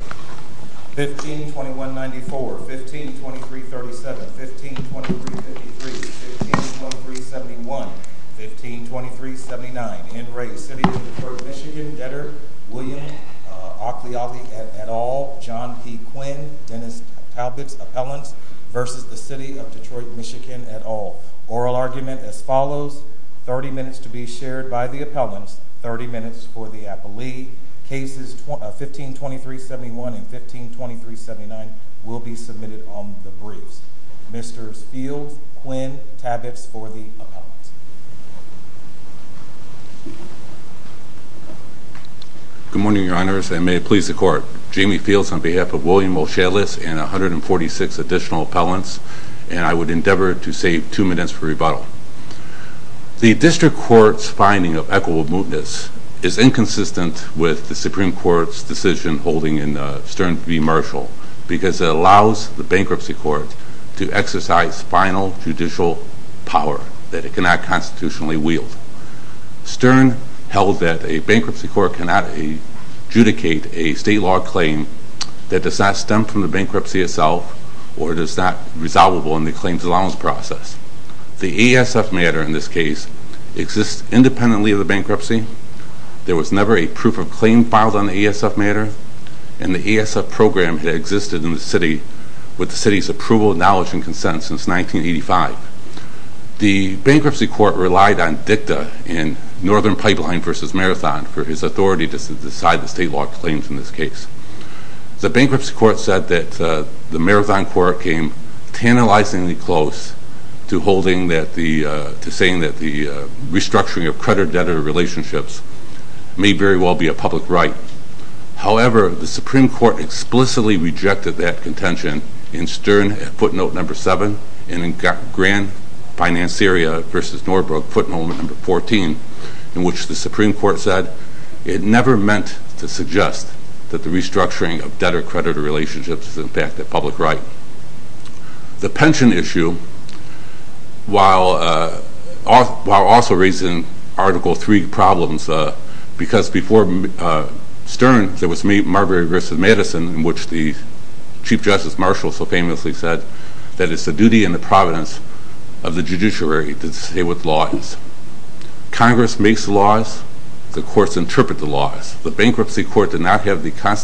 15 2194 15 23 37 15 23 53 15 23 71 15 23 79 in great city of Detroit, Michigan, Edd at all. John P. Quinn, th versus the city of Detroi all. Oral argument as fol to be shared by the appell 15 21 and 15 23 79 will be brief. Mr. Spiel Quinn. T please the court. Jamie P William O'Shaughness and 1 appellants and I would en finding of equitable moot with the Supreme Court's v. Marshall because it al court to exercise final j that a bankruptcy court c from the bankruptcy itself ASF matter in this case e never a proof of claim fi had existed in the city w on dicta in northern pipe for his authority to deci claims in this case. The to holding that the sayin may very well be a public right. However, the Supre rejected that contention number seven and in fact, versus Norfolk put moment the Supreme Court said it that the restructuring of relationships is in fact t pension issue while, uh, there was me, Margaret Gr the Chief Justice Marshall it's a duty and the provi to stay with laws. Congre court did not have the co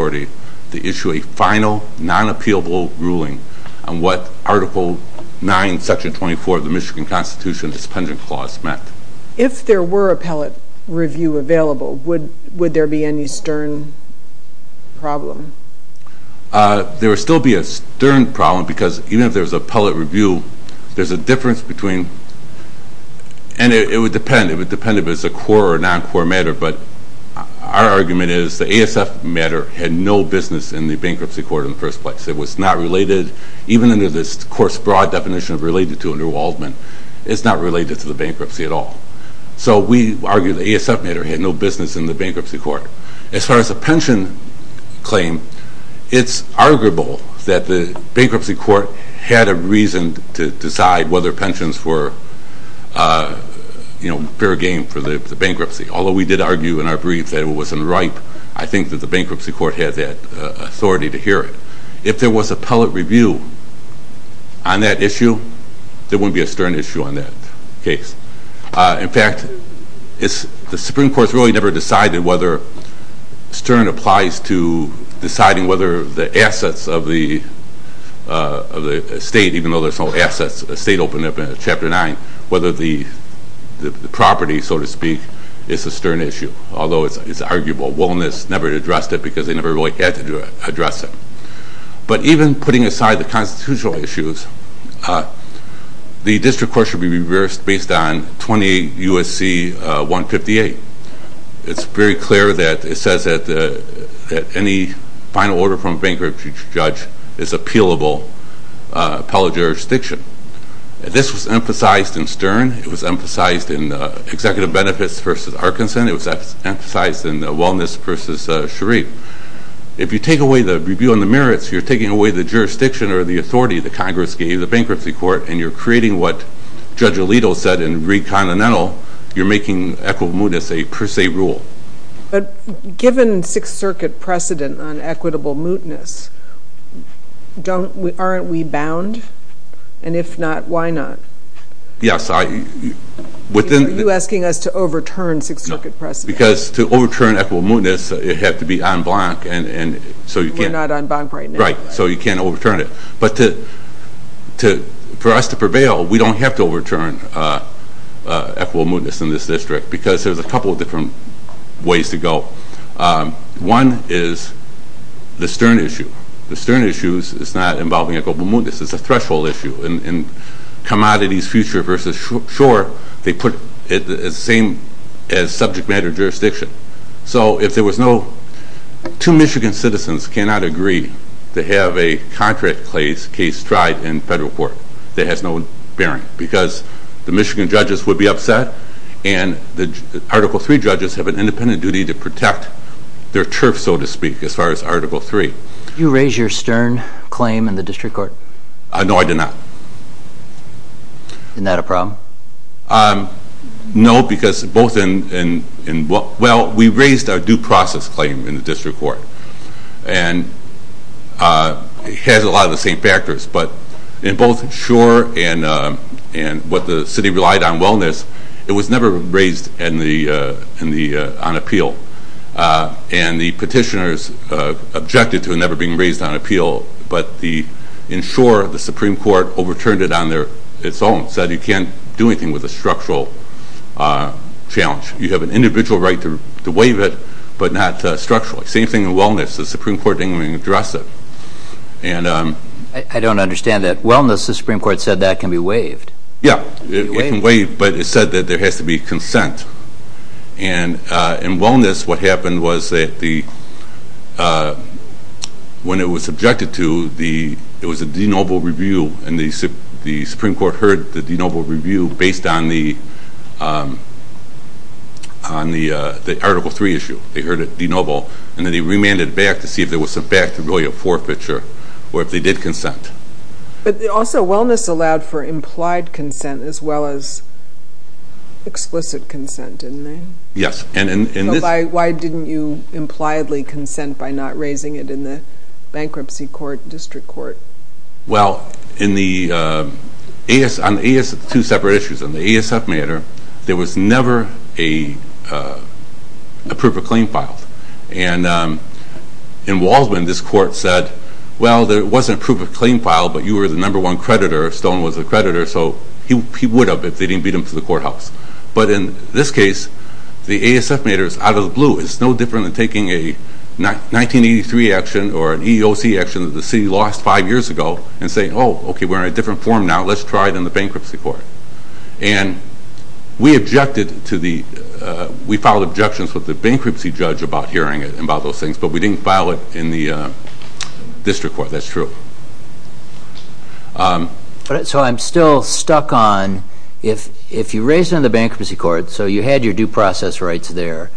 to issue a final non appeal on what article nine secti constitution's pending cla if there were appellate r would, would there be any even if there's a public between and it would depe as a core or non core mat is the ASF matter had no court in the first place. even in this course broad to under Waldman, it's no to the bankruptcy at all. ASF matter had no busines court. As far as a pensio arguable that the bankrup to decide whether pensions fair game for the bankrup argue in our brief that w that the bankruptcy court to hear it. If there was on that issue, there woul In fact, it's the Supreme to deciding whether the a though there's no assets in chapter nine, whether to speak, it's a stern is arguable. Wellness never they never really had to even putting aside the co issues. Uh, the district based on 28 U. S. C. 158. judge is appealable. Uh, This was emphasized in st in executive benefits ver If you take away the revi taking away the jurisdict gave you the bankruptcy c what judge Alito said in making equitable mootness given Sixth Circuit prece mootness, don't aren't we us to overturn Sixth Circ overturn equitable mootne on blank. And so you're n you can't overturn it. Bu district because there's ways to go. Um, one is th a threshold issue and com versus sure they put the jurisdiction. So if there a contract place case tri would be upset and the Ar have an independent duty church, so to speak, as f You raise your stern claim because both in, in, in w due process claim in the sure. And, uh, and what t wellness, it was never ra appeal. Uh, and the petit never being raised on app the Supreme Court overturn you can't do anything wit but not structurally. Say The Supreme Court didn't that can be waived. Yeah, that there has to be cons what happened was that th to the, it was a denoble on the, um, on the, uh, t denoble. And then he rema if there was some back to or if they did consent. B allowed for implied consen consent, didn't they? Yes you impliedly consent by in the, uh, on the two se there was never a, uh, pr um, in Waldman, this cour wasn't approved a claim f the number one creditor, So he would have, if they courthouse. But in this c out of the blue, it's no a 1983 action or an E. O. lost five years ago and s a different form. Now let tried in the bankruptcy c to the, uh, we filed obje judge about hearing it an we didn't file it in the, raised in the bankruptcy due process rights there,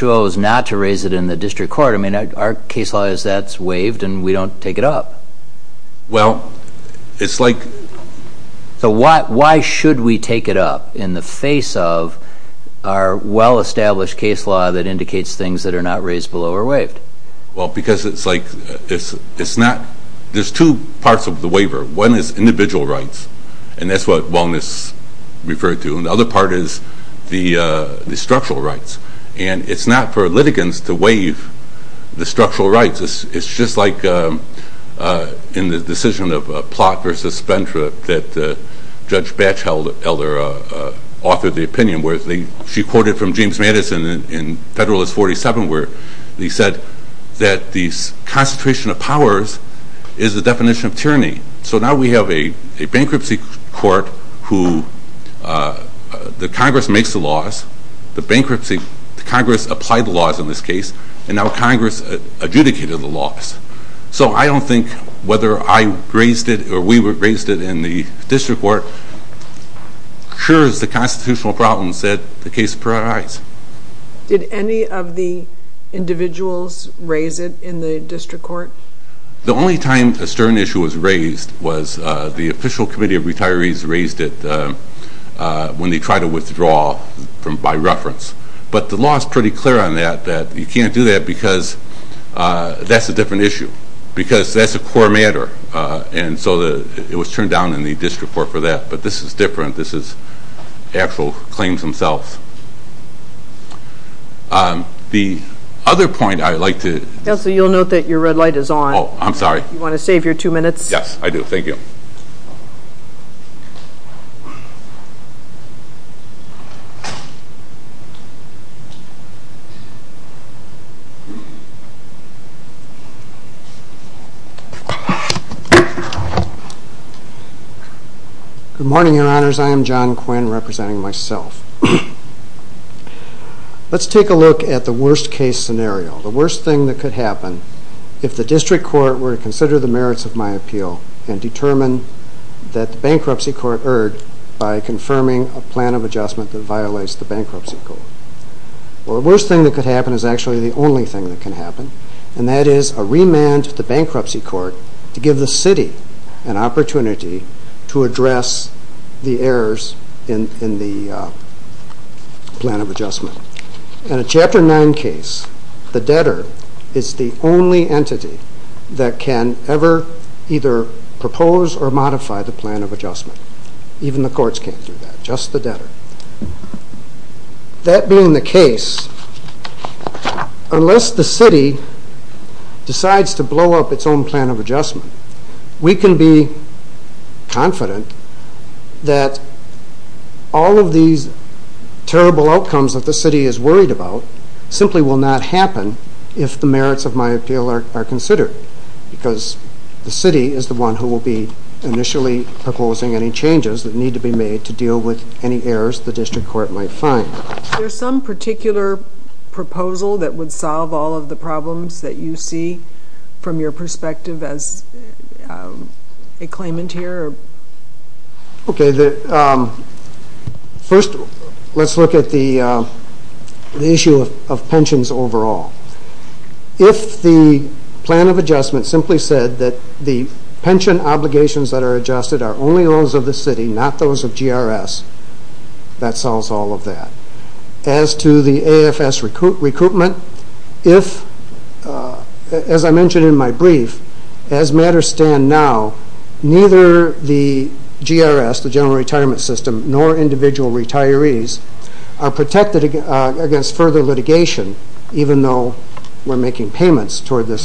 chose not to raise it in I mean, our case law is t it up? Well, it's like, t we take it up in the face case law that indicates t raised below or waived? W like, it's, it's not, the the waiver. One is individ what wellness referred to the, uh, the structural r for litigants to waive th it's just like, uh, in th versus Spencer, that, uh, authored the opinion, whe from James Madison in fed he said that the constitu definition of tyranny. So court who, uh, the Congre bankruptcy, Congress appl the laws in this case. An of the laws. So I don't t it or we raised it in the is the constitutional pro prioritize. Did any of th in the district court? Th issue was raised was the retirees raised it when t from by reference. But th that you can't do that be issue because that's a co that it was turned down i for that. But this is dif claims themselves. Um, th like to, you'll note that on. I'm sorry. You want t Good morning, your honor. representing myself. Let' worst case scenario. The happen if the district co the merits of my appeal a bankruptcy court erred by of adjustment that violat bankruptcy court. The wor happen is actually the on happen. And that is a rem court to give the city an address the errors in the In a chapter nine case, t the only entity that can or modify the plan of adju the courts came through t That being the case, unle to blow up its own plan o be confident that all of that the city is worried not happen if the merits are considered because th is the one who will be in any changes that need to errors. The district cour some particular proposal the problems that you see as a claimant here. Okay. at the issue of pensions overall. If the plan of a said that the pension ob are only those of the cit G. R. S. That solves all A. F. S. Recruitment. If my brief, as matters stan the G. R. S. The general nor individual retirees a against further litigatio making payments toward th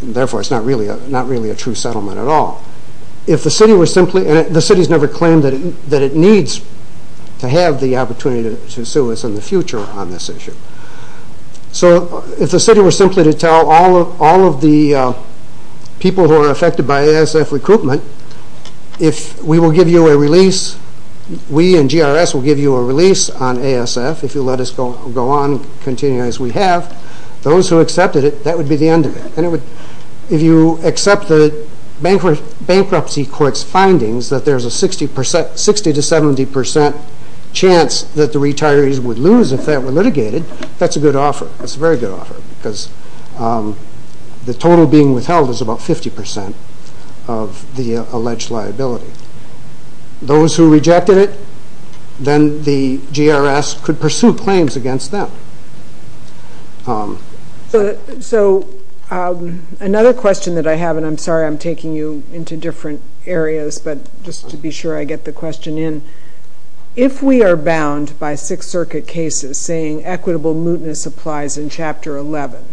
Therefore, it's not reall settlement at all. If the the city has never claime have the opportunity to s on this issue. So if the to tell all of all of the by A. S. F. Recruitment, if we will give you a rel you a release on A. S. F. go on, continue as we hav it, that would be the end you accept the bankrupt b that there's a 60% 60 to the retirees would lose i That's a good offer. It's because the total being w 50% of the alleged liabil it, then the G. R. S. Cou them. Um, so, um, anothe I'm sorry, I'm taking you but just to be sure I get if we are bound by Sixt C equitable mootness applies in Chapter 11.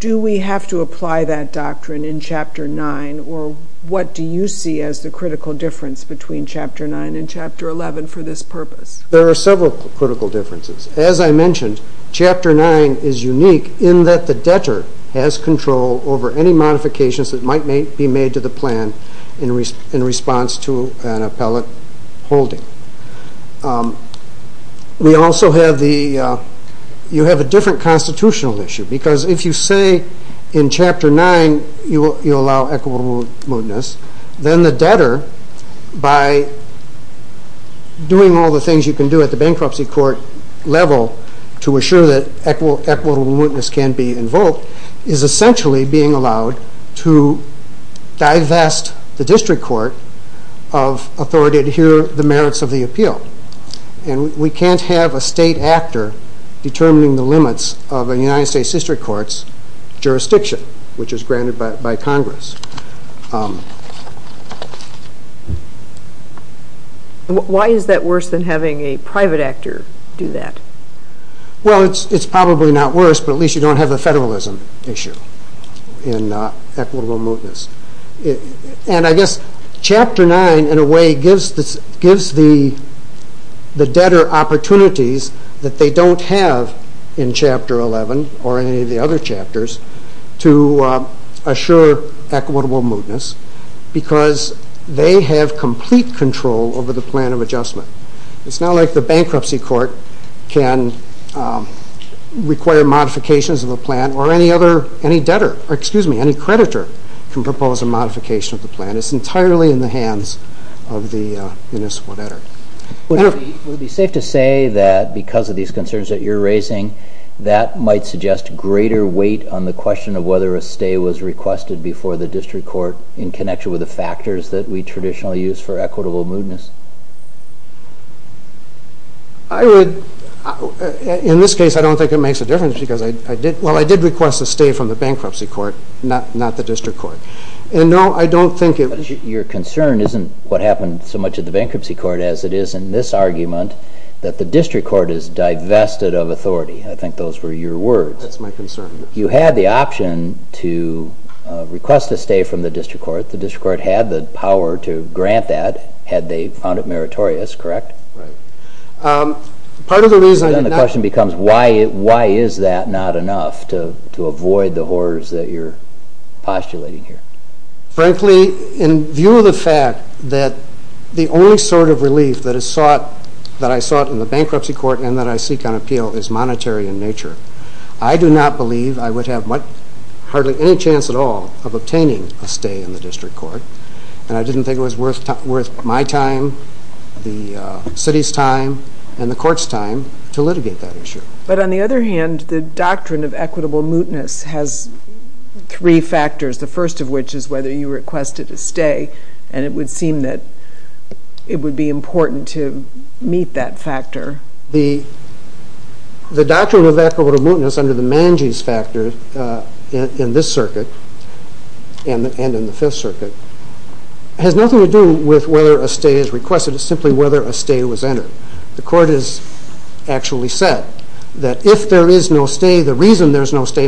Do we have in Chapter nine? Or what difference between Chapte for this purpose? There a differences. As I mentione in that the debtor has co that might be made to the to an appellate holding. the, uh, you have a diffe issue because if you say you allow equitable mootn by doing all the things y court level to assure tha can be invoked is essentia to divest the district co the merits of the appeal. a state actor determining United States district co is granted by Congress. U than having a private act it's probably not worse, you don't have a federalis mootness. And I guess Chap gives the gives the debto they don't have in Chapte the other chapters to assu because they have complet plan of adjustment. It's bankruptcy court can requ of a plan or any other, a any creditor can propose plan. It's entirely in th better. It would be safe of these concerns that yo might suggest greater wei whether a stay was reques court in connection with we traditionally use for I would in this case, I d a difference because I di to stay from the bankrupt district court. And no, I your concern isn't what h the bankruptcy court as i that the district court i I think those were your w You had the option to req district court had the po they found it meritorious of the reason the question is that not enough to avo that you're postulating h of the fact that the only is sought that I saw it i court and that I seek on in nature. I do not belie have hardly any chance at a stay in the district co it was worth worth my tim and the court's time to l But on the other hand, th mootness has three factor is whether you requested seem that it would be imp factor. The the doctrine under the mangy's factor and in the fifth circuit with whether a stay is re whether a stay was entered said that if there is no no stay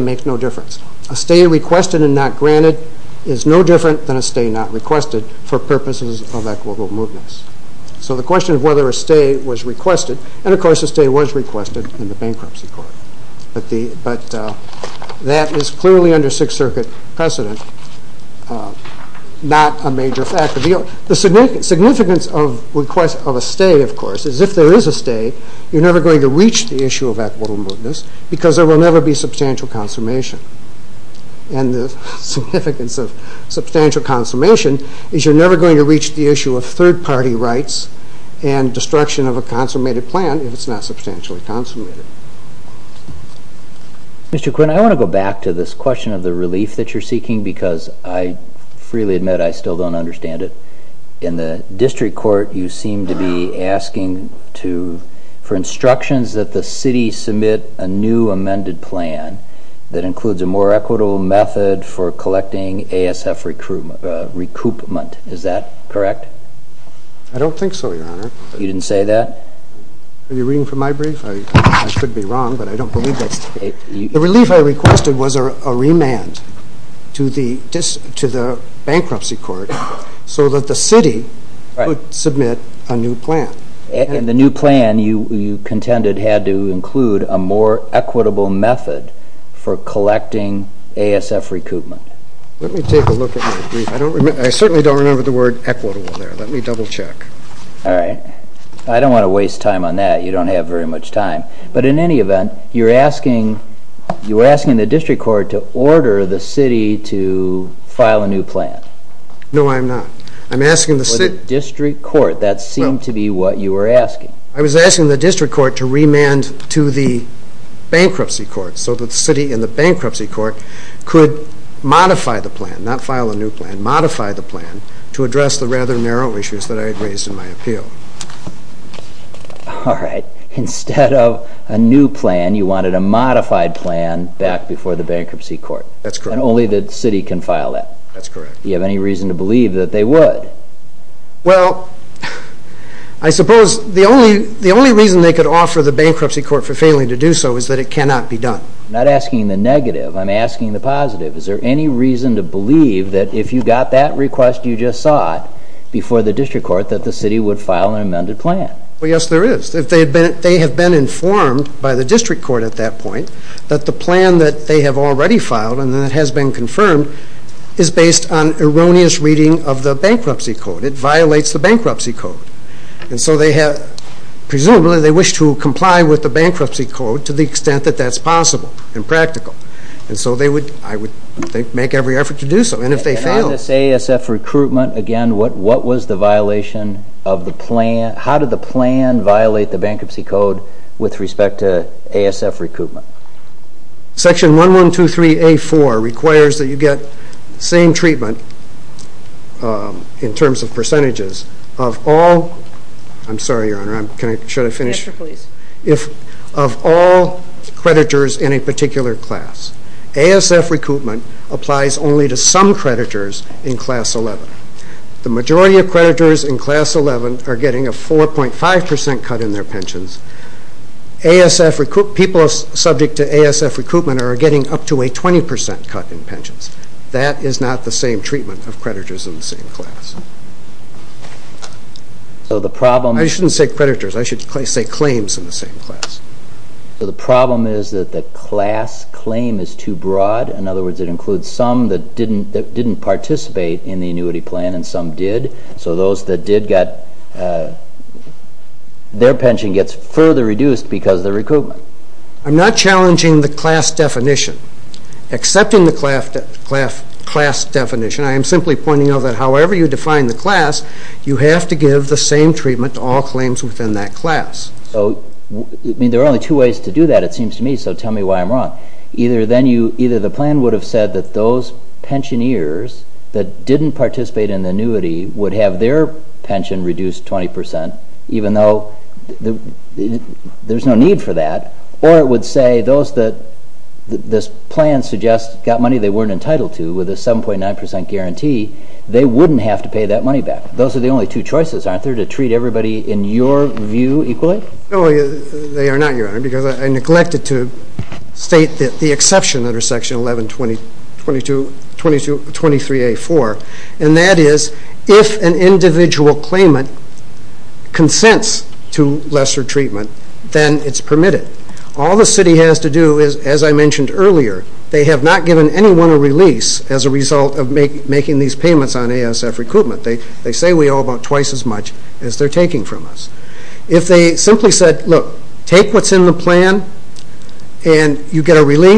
makes no differen and not granted is no dif requested for purposes of the question of whether a And of course the state w in the bankruptcy court. is clearly under sixth ci a major factor. The signi of request of a stay of c a stay, you're never goin of that little mootness b be substantial consummati going to reach the issue and destruction of a cons if it's not substantially Quinn, I want to go back the relief that you're se admit, I still don't unde court, you seem to be ask that the city submit a ne includes a more equitable A. S. F. Recruitment recu I don't think so. Your hon you didn't say that. Are y brief? I should be wrong, that the relief I request to the to the bankruptcy city submit a new plan. A you contended had to incl method for collecting A. take a look at. I don't r remember the word equitable double check. All right. time on that. You don't h But in any event, you're the district court to ord a new plan. No, I'm not. court. That seemed to be I was asking the district to the bankruptcy court s bankruptcy court could mo file a new plan, modify t narrow issues that I agre All right. Instead of a n a modified plan back befo court. That's only the ci correct. You have any rea they would? Well, I suppo reason they could offer t for failing to do so is t done. Not asking the nega positive. Is there any re if you got that request, the district court that t amended plan? Well, yes, have been informed by the point that the plan that filed and then it has bee on erroneous reading of t It violates the bankruptcy have presumably they wish bankruptcy code to the ex and practical. And so the every effort to do so. An A. S. F. Recruitment. Aga violation of the plan? Ho the bankruptcy code with recruitment? Section 1123 you get same treatment. U of all. I'm sorry, your o finished? If of all credi class. A. S. F. Recruitme creditors in class 11. Th in class 11 are getting a pensions. A. S. F. Recruit to A. S. F. Recruitment a 20% cut in pensions. That treatment of creditors in the problem. I shouldn't s should say claims in the So the problem is that th is too broad. In other wo that didn't didn't partic plan and some did. So tho uh their pension gets fur the recruitment. I'm not definition, accepting the definition. I'm simply po you define the class, you treatment to all claims w So there are only two way to me. So tell me why I'm you, either the plan would pensioneers that didn't p would have their pension r though there's no need fo say those that this plan weren't entitled to with they wouldn't have to pay Those are the only two cho everybody in your view, e not your honor because I that the exception that a 22 22 23 a four and that claimant consents to less it's permitted. All the c as I mentioned earlier, t anyone a release as a res payments on A. S. F. Recr we owe about twice as muc from us. If they simply s in the plan and you get a who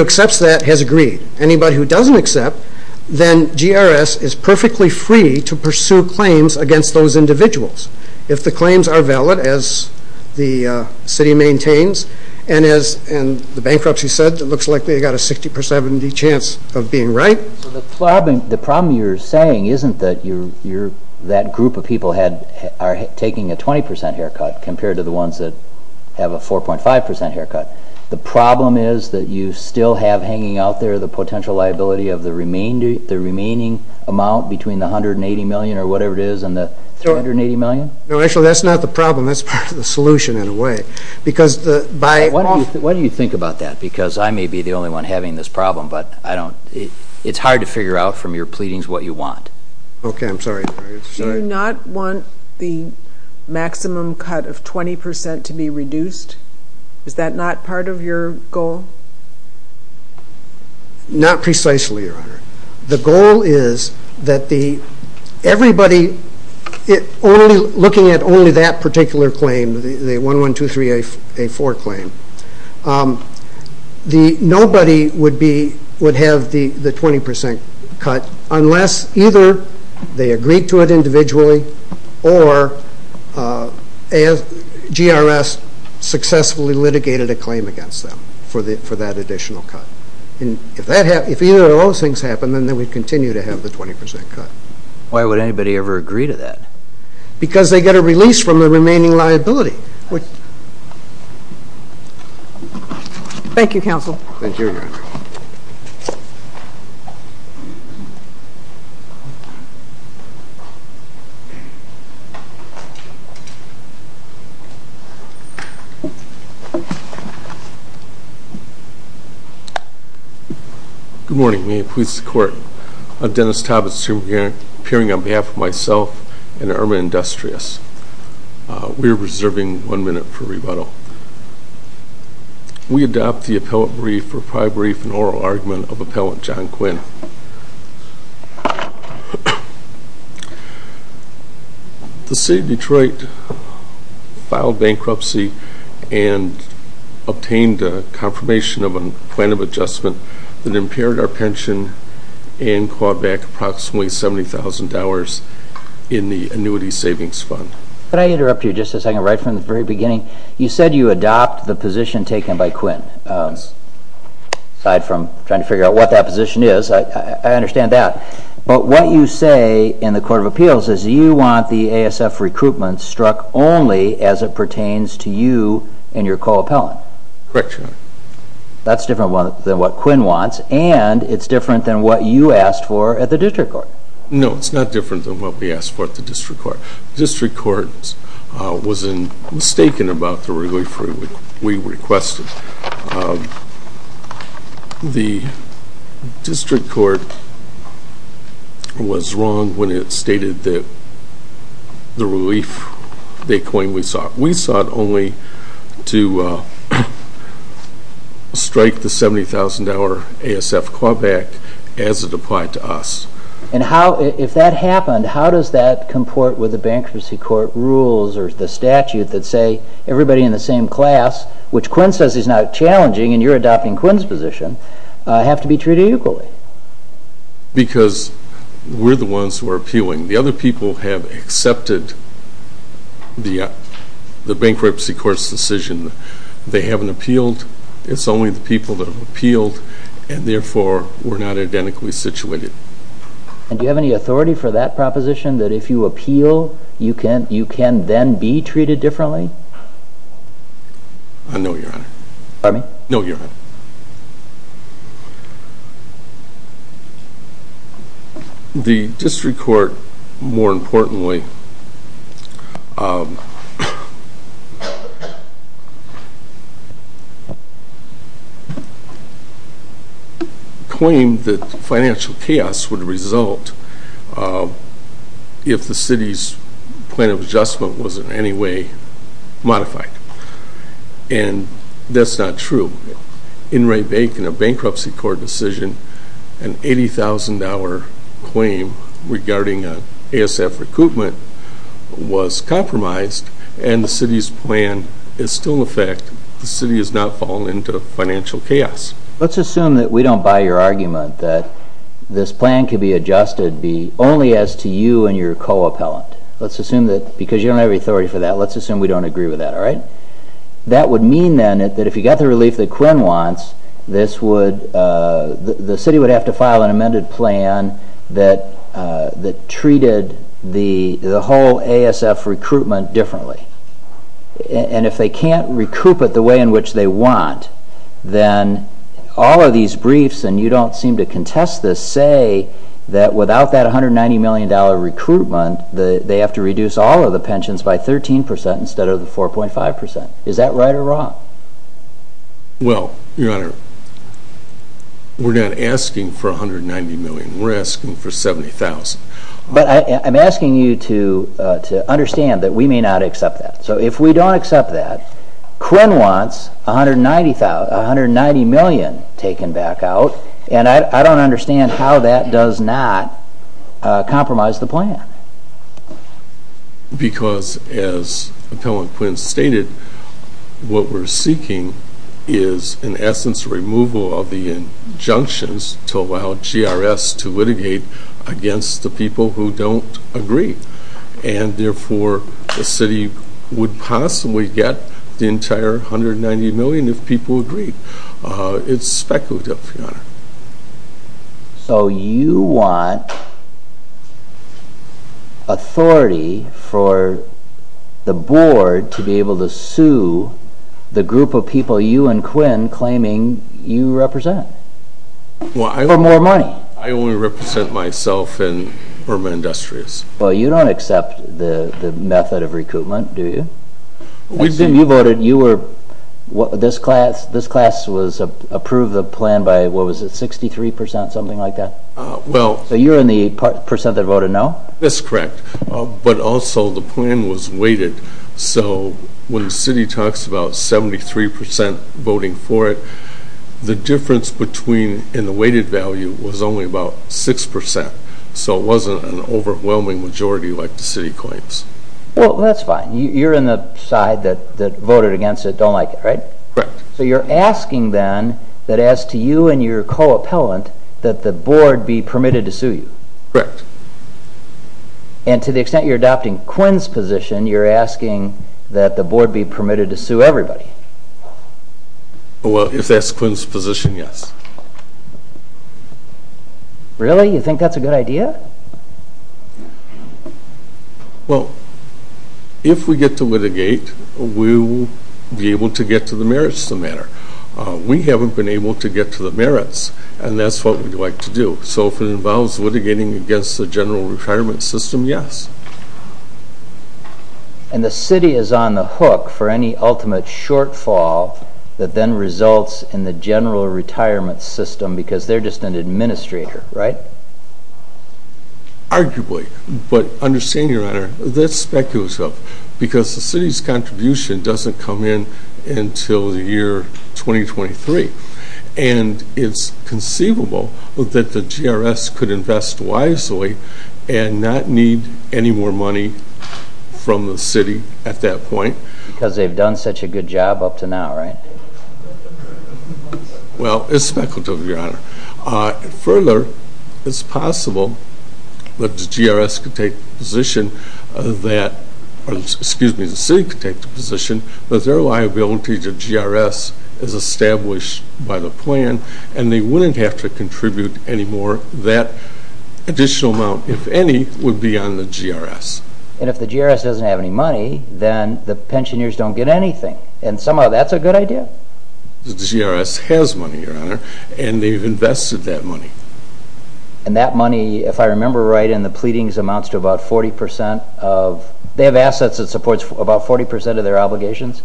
accepts that has agre accept, then GRS is perfe claims against those indi are valid as the city mai the bankruptcy said, it l a 60% of the chance of be the problem you're saying you're that group of peop 20% haircut compared to t a 4.5% haircut. The probl have hanging out there, t of the remaining, the rem 180 million or whatever i million. No, that's not t the solution in a way bec you think about that? Bec only one having this prob it's hard to figure out f what you want. Okay, I'm s want the maximum cut of 2 not part of your goal? No honor. The goal is that t looking at only that part 112384 claim. Um, the nob have the 20% cut unless e to it individually or uh, litigated a claim against additional cut. And if tha those things happen, then to have the 20% cut. Why w agree to that? Because the the police from the remova good morning. Please seco assuming you're appearing We're reserving one minut adopt the appellate brief oral argument of appellan Detroit filed bankruptcy of a plan of adjustment t and call back approximatel the annuity savings fund. you just a second right f You said you adopt the po Uh aside from trying to f that position is. I under you say in the court of a the A. S. F. Recruitment to you and your call appe different than what Quinn different than what you a court. No, it's not diffe asked for the district co was mistaken about the re that the relief they clai sought only to uh strike A. S. F. Club act as it a if that happened, how doe the bankruptcy court rul that say everybody in the Quinn says he's not chall Quinn's position have to because we're the ones wh people have accepted the decision. They haven't ap people that have appealed and therefore we're not i And do you have any autho that if you appeal you ca be treated differently? N claim that financial chaos the city's plan of adjust modified and that's not tr a bankruptcy court decisio regarding A. S. F. Recruit and the city's plan is st not fall into financial c that we don't buy your ar can be adjusted be only a co appellant. Let's assum you don't have authority assume we don't agree wit would mean then that if y that Quinn wants, this wo have to file an amended p the whole A. S. F. Recrui if they can't recoup it t want, then all of these b seem to contest this, say $190 million recruitment, all of the pensions by 13 4.5%. Is that right or wr asking for $190 million. 70,000. But I'm asking yo may not accept that. So i that Quinn wants $190,19 and I don't understand ho the plan because as appell we're seeking is in essen the injunctions to allow G to litigate against the p and therefore the city wo entire $190 million. If p speculative. So you want the board to be able to s you and Quinn claiming yo Well, I got more money. I in urban industries. Well the method of recoupment. you were this class. This the plan by what was it? like that. Well, you're i waited. So when the city 73% voting for it. The di weighted value was only a an overwhelming majority Well, that's fine. You're against it. Don't like it then that as to you and y the board be permitted to the extent you're adoptin you're asking that the bo to sue everybody. Well, i Yes. Really? You think th Well, if we get to litiga to get to the merits of t been able to get to the m what we'd like to do. So against the general retir And the city is on the ho shortfall that then resul system because they're ju Right. Arguably. But under speculative because the c doesn't come in until the And it's conceivable that wisely and not need any mo city at that point because a good job up to now, rig to the honor. Uh, further the GRS could take positi the city could take the p their liability to GRS is plan and they wouldn't ha that additional amount. I the GRS. And if the GRS d then the pensioneers don' somehow that's a good ide your honor and they've in that money. If I remember amounts to about 40% of t about 40% of their obliga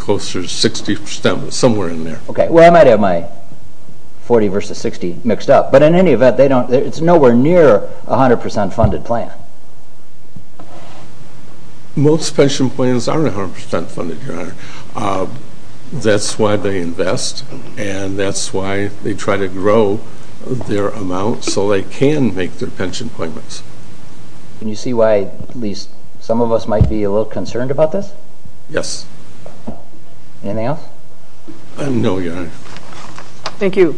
closer to 60% somewhere i might have my 40 vs 60 mi event, they don't, it's n funded plan. Most pension funded. Uh, that's why th why they try to grow thei can make their pension pl Can you see why at least be a little concerned abo Thank you.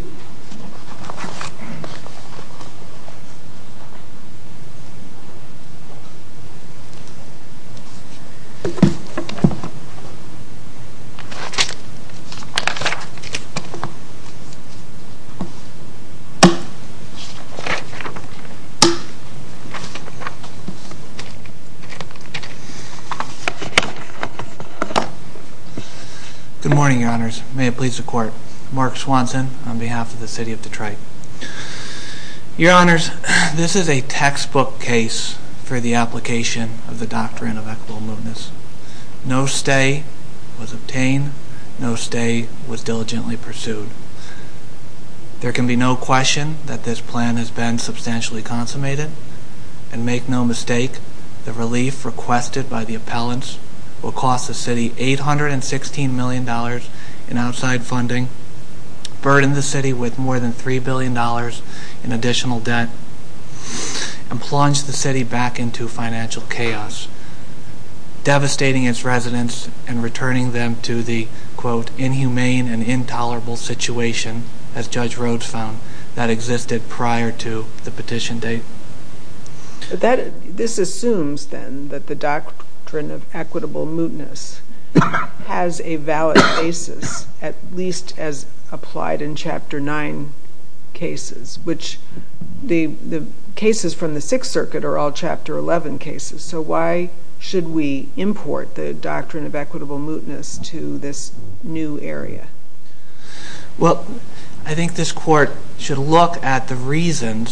Good morning, the court. Mark Swanson o of Detroit. Your honors. case for the application of equitable movements. N No stay was diligently pu be no question that this consummated and make no m requested by the appellant $816 million in outside fu city with more than $3 bil debt and plunge the city b chaos, devastating its re them to the quote inhuman as judge Rhodes found tha the petition date. That t that the doctrine of equi a valid basis, at least a nine cases, which the cas circuit are all chapter 1 we import the doctrine of to this new area? Well, I should look at the reason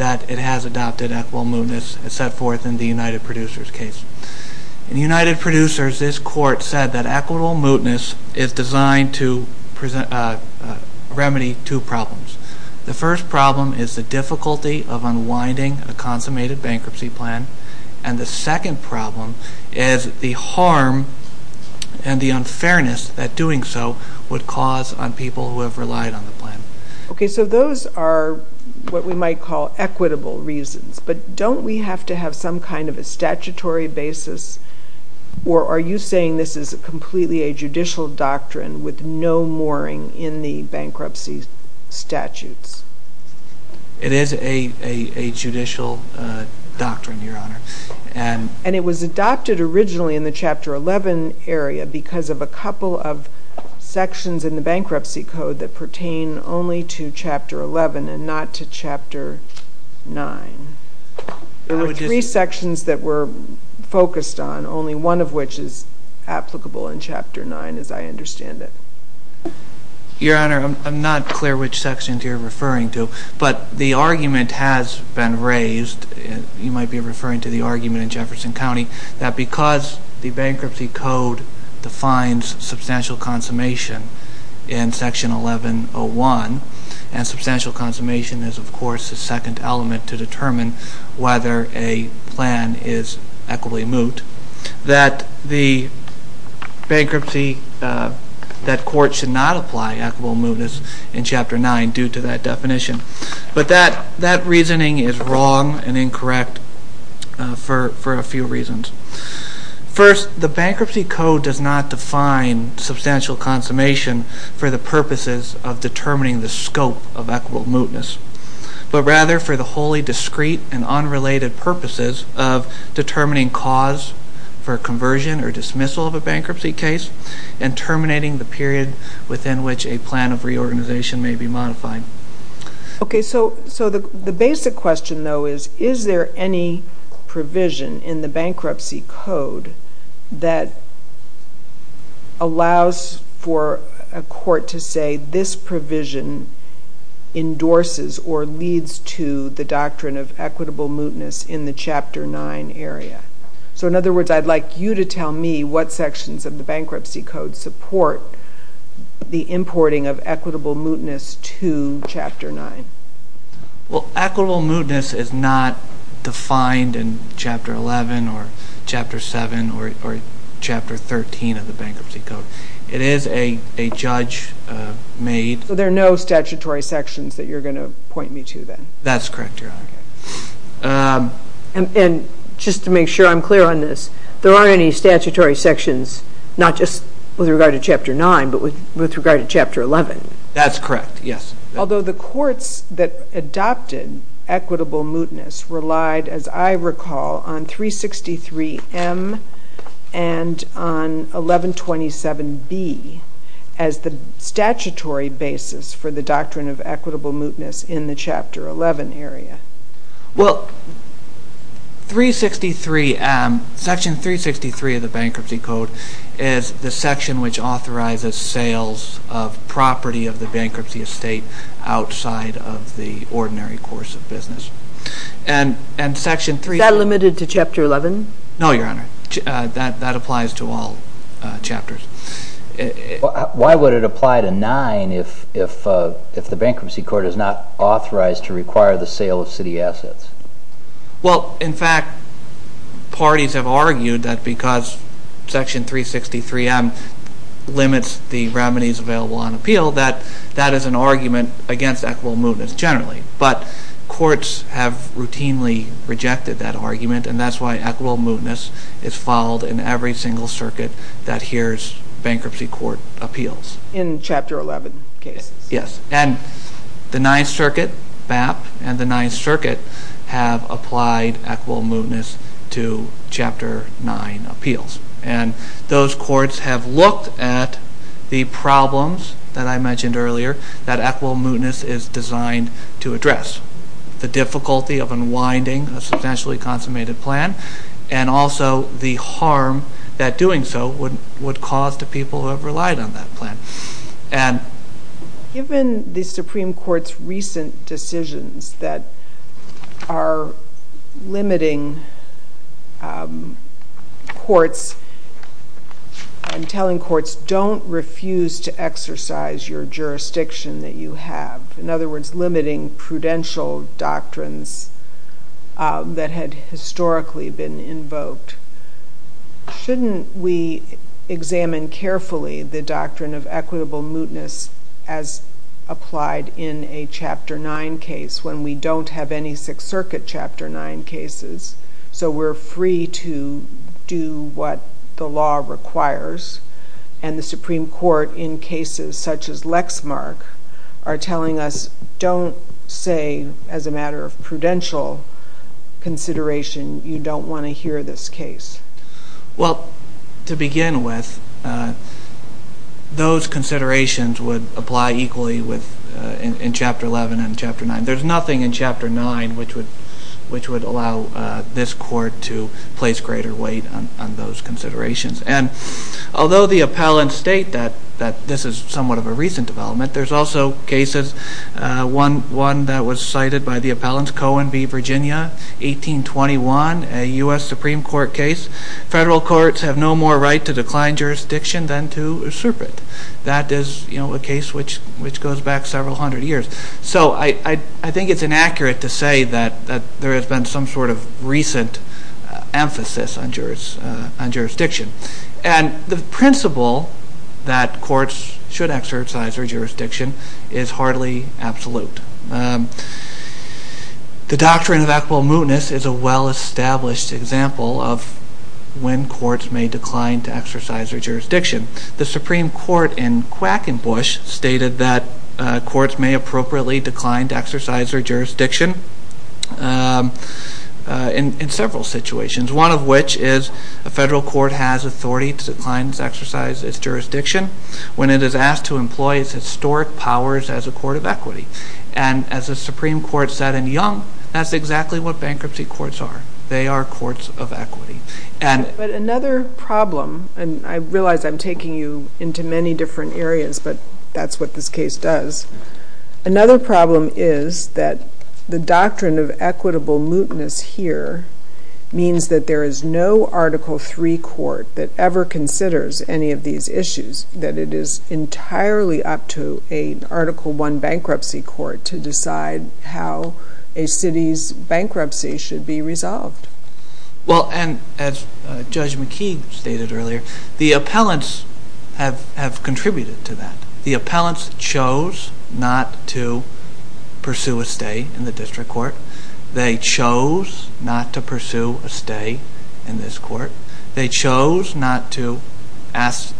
equitable movements set f producers case. United Pro said that equitable mootn two problems. The first p of unwinding a consummated plan. And the second prob and the unfairness that d on people who have relied so those are what we might But don't we have to have basis? Or are you saying a judicial doctrine with bankruptcy statute? It is your honor. And it was ad the chapter 11 area becau in the bankruptcy code th 11 and not to chapter nine that were focused on. Onl in chapter nine as I unde I'm not clear which secti to, but the argument has might be referring to the County that because the b substantial consummation and substantial consumma the second element to det a plan is equitably moot. court should not apply e chapter nine due to that reasoning is wrong and in reasons. First, the bankr define substantial consum of determining the scope But rather for the wholly purposes of determining c or dismissal of a bankrup the period within which a may be modified. Okay. So though, is, is there any code that allows for a co this provision endorses o of equitable mootness in So in other words, I'd li what sections of the bank the importing of equitabl nine. Well, equitable moo in chapter 11 or chapter made. So there are no st you're going to point me correct. Um, and just to on this, there aren't any not just with regard to c with regard to chapter 11 Although the courts that mootness relied, as I rec on 3 63 M. And on 11 27 B basis for the doctrine of in the chapter 11 area. W 3 63 of the bankruptcy co which authorizes sales of estate outside of the ord of business. And, and sec to chapter 11. No, your H to all chapters. Why woul if, if, if the bankruptcy to require the sale of ci fact, parties have argued 3 63 M. Limits the remedy that that is an argument mootness generally. But c rejected that argument an mootness is followed in e that here's bankruptcy co 11. Okay. Yes. And the ni the ninth circuit have ap to chapter nine appeals. have looked at the proble mentioned earlier, that a designed to address the d a substantially consummati the harm that doing so wo who have relied on that p the Supreme Court's recen are limiting um courts. I refuse to exercise your j you have. In other words, doctrines that had histo Shouldn't we examine caref of equitable mootness as case when we don't have a nine cases. So we're free the law requires and the such as Lexmark are telli a matter of prudential co don't want to hear this c with, uh, those considera with, uh, in chapter 11 a nothing in chapter nine w which would allow this co weight on those considera the appellant state that of a recent development, one that was cited by the Virginia 18 21 a U. S. Su courts have no more right than to super. That is a goes back several 100 yea I think it's inaccurate t has been some sort of rec jurors on jurisdiction. A courts should exercise th hardly absolute. Um, the mootness is a well establ courts may decline to exe The Supreme Court in Quac stated that courts may a exercise their jurisdicti One of which is the Federa declines exercise its jur is asked to employ its hi a court of equity. And as and young, that's exactly are. They are courts of e problem and I realize I'm areas, but that's what th problem is that the docto mootness here means that three court that ever con issues that it is entirel one bankruptcy court to d bankruptcy should be reso as Judge McKee stated ear The appellants have contr appellants chose not to p district court. They chose stay in this court. They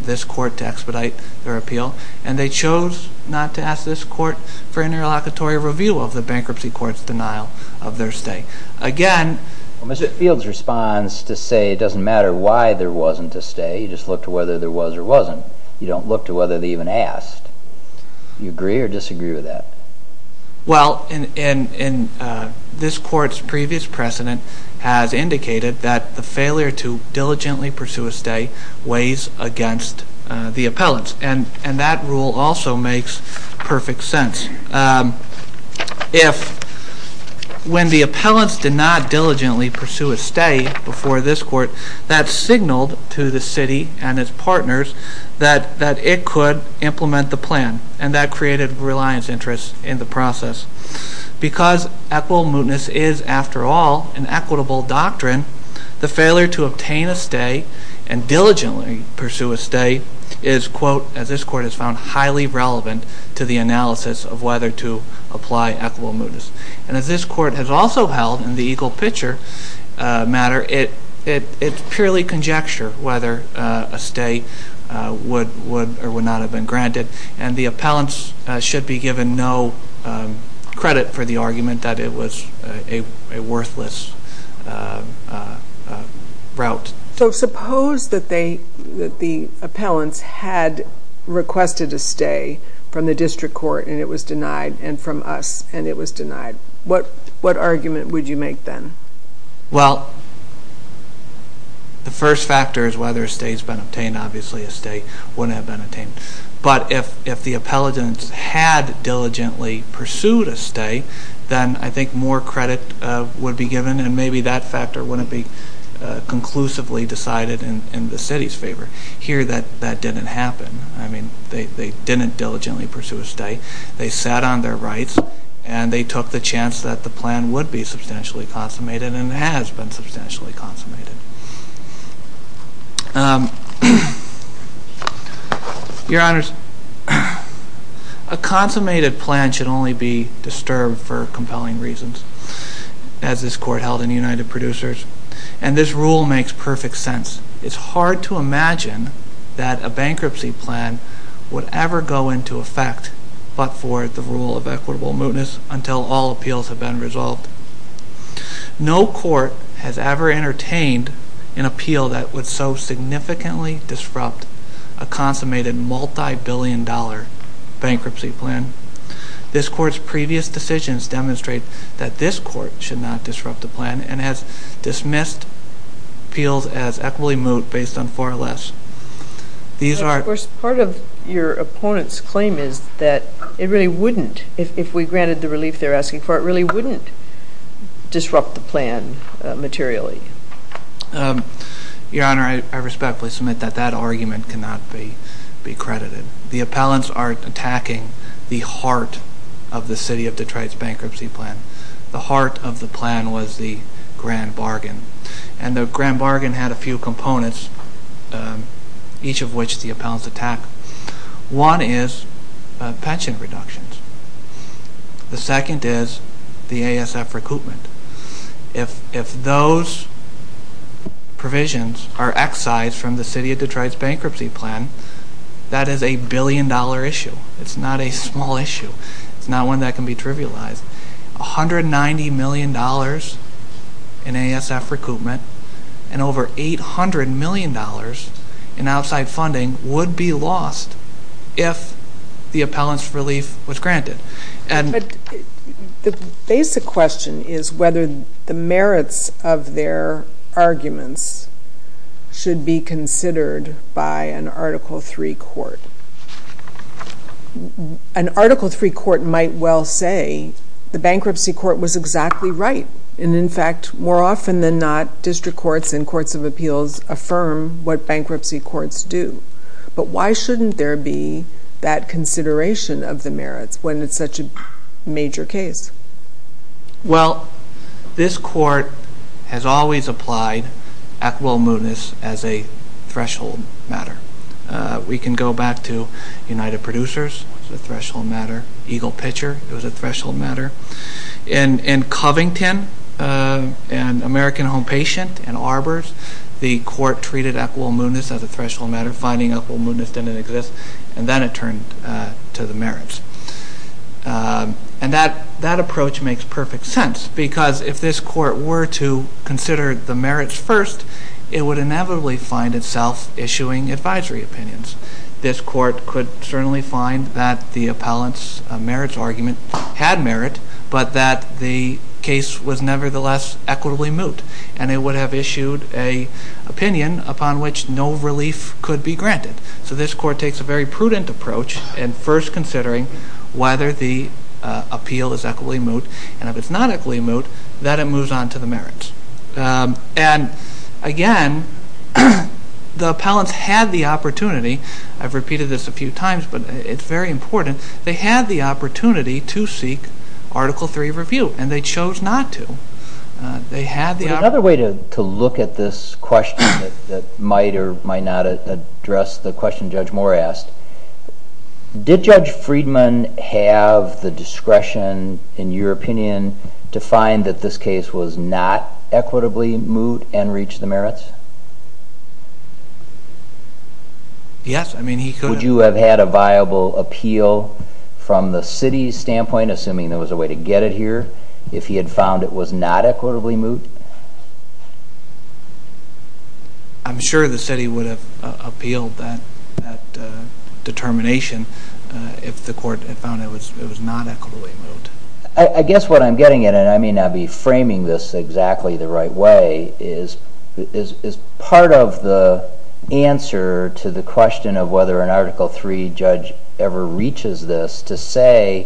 this court to expedite th chose not to ask this cou reveal of the bankruptcy stay again. Mr Fields resp doesn't matter why there just look to whether ther don't look to whether the or disagree with that. We previous precedent has in to diligently pursue a st the appellants. And that sense. Um, if when the ap not diligently pursue a s that signaled to the city that that it could implem that created reliance int because equitable mootness doctrine, the failure to diligently pursue a stay i court has found highly re of whether to apply equiva has also held in the equa it, it, it's purely conje would or would not have b appellants should be given argument that it was a wo suppose that they, that t a stay from the district denied and from us and it argument would you make t factors, whether states b a state wouldn't have ben the appellants had diligi then I think more credit and maybe that factor wou decided in the city's fav didn't happen. I mean, th pursue a stay. They sat o they took the chance that substantially consummated consummated. Um, your hon plan should only be distu reasons as this court hel and this rule makes perfe to imagine that a bankrup would ever go into effect of equitable mootness unt been resolved. No court h an appeal that would so s a consummated multibillion plan. This court's previ that this court should no and has dismissed appeals moot based on far less. T of your opponent's claim if we granted the relief it really wouldn't disru Um, your honor, I respec that argument cannot be b are attacking the heart o bankruptcy plan. The hea was the grand bargain and a few components. Um, eac attack. One is pension re is the A. S. F. Recoupme are excised from the city plan, that is a billion d not a small issue. It's n trivialized. $190 million in A. S. F. Recoupment an outside funding would be relief was granted. And t is whether the merits of be considered by an artic article three court might well say the bankruptcy c right. And in fact, more and courts of appeals aff courts do. But why shoul consideration of the meri case? Well, this court ha will move this as a thres can go back to United Pro threshold matter. Eagle p matter. And in Covington, and arbors, the court tre as a threshold matter, fi didn't exist. And then it Um, and that that approach because if this court wer merits first, it would in issuing advisory opinions. court could certainly find merits argument had merit was nevertheless equitably have issued a opinion upo could be granted. So this prudent approach and firs the appeal is equitably mo equitably moot that it moo And again, the appellants I've repeated this a few important. They had the o article three review and They had another way to l that might or might not a Judge Moore asked, did Ju the discretion in your op that this case was not eq reach the merits? Yes. I you have had a viable app standpoint, assuming there it here. If he had found moved, I'm sure the city that determination if the was not equitably moot. I it. And I may not be fram the right way is, is part the question of whether a ever reaches this to say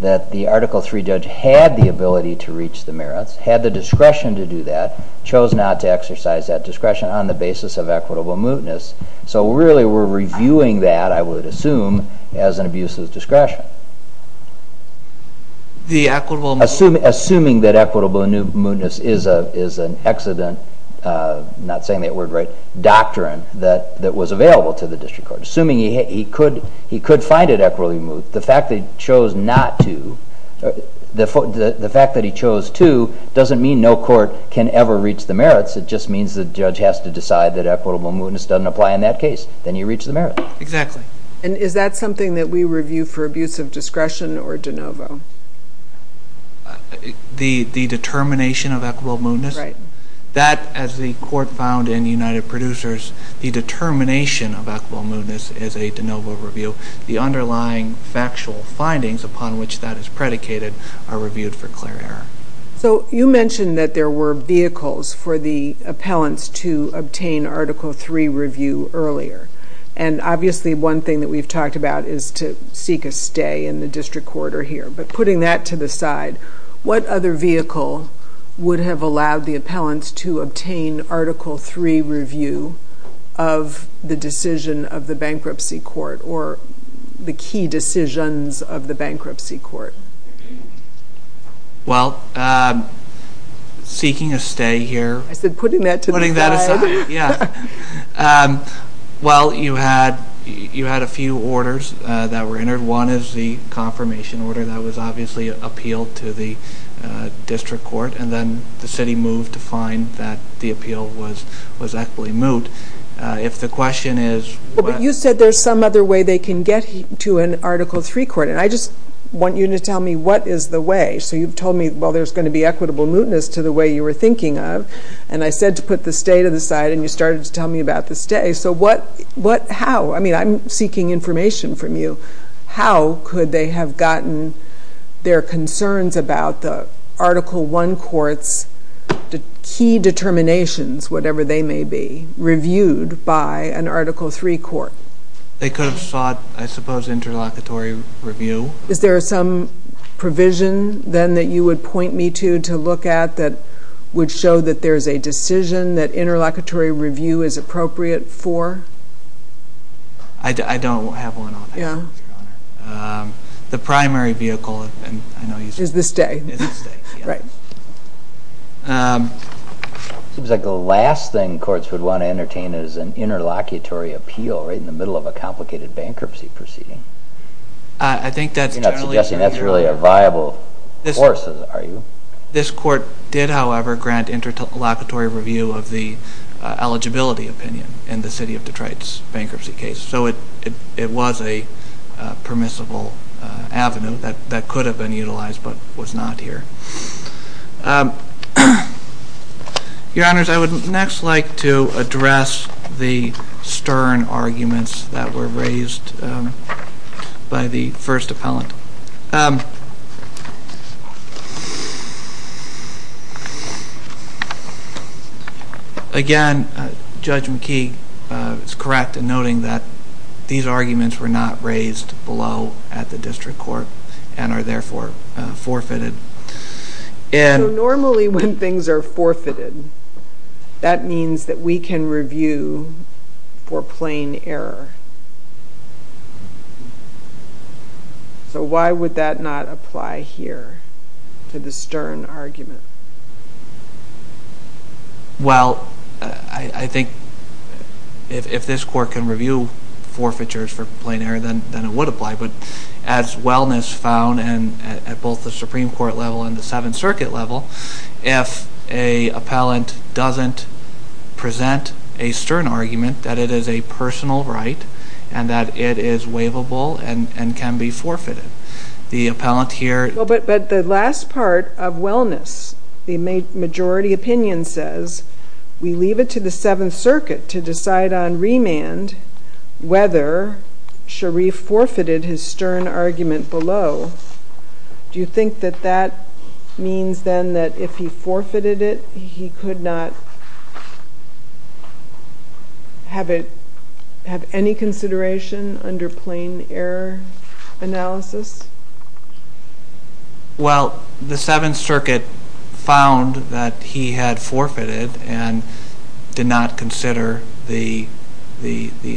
judge had the ability to had the discretion to do exercise that discretion equitable mootness. So re I would assume as an abus equitable, assuming that is a, is an accident. Uh, right doctrine that was a court, assuming he could, equitably moot. The fact the fact that he chose to court can ever reach the the judge has to decide t doesn't apply in that cas merits. Exactly. And is t we review for abuse of di the determination of equi as the court found in the the determination of equi de novo review. The under upon which that is predic for clear error. So you m were vehicles for the app obtain article three revi one thing that we've talk a stay in the district qu that to the side, what ot have allowed the appellant three review of the decis court or the key decision court? Well, uh, seeking I said, putting that to t well, you had, you had a entered. One is the conf was obviously appealed to and then the city moved t was, was actually moot. U is, you said there's some get to an article three c you to tell me what is th me, well, there's going t were thinking of and I sa to the side and you start to stay. So what, what, h information from you. How gotten their concerns abo courts, key determinatio may be reviewed by an arti could have sought, I supp review. Is there some pro that you would point me t show that there's a decis review is appropriate for one. Yeah. Um, the primar is this day, right? Um, s thing courts would want t interlocutory appeal righ a complicated bankruptcy p that's really a viable fo court did, however, grant review of the eligibility of Detroit's bankruptcy c a permissible avenue that utilized, but was not her I would next like to addr stern arguments that were appellant. Um, again, ju correct in noting that th raised below at the distr therefore forfeited. Norma forfeited. That means tha plain error. So why would here to the stern argumen think if this court can r plain error, then it woul found and at both the Sup level and the seventh cir appellant doesn't present that it is a personal rig waivable and can be forfe But the last part of well opinion says we leave it to decide on remand wheth Sharif forfeited his stern Do you think that that me forfeited it, he could no consideration under plain the seventh circuit found he had forfeited and did the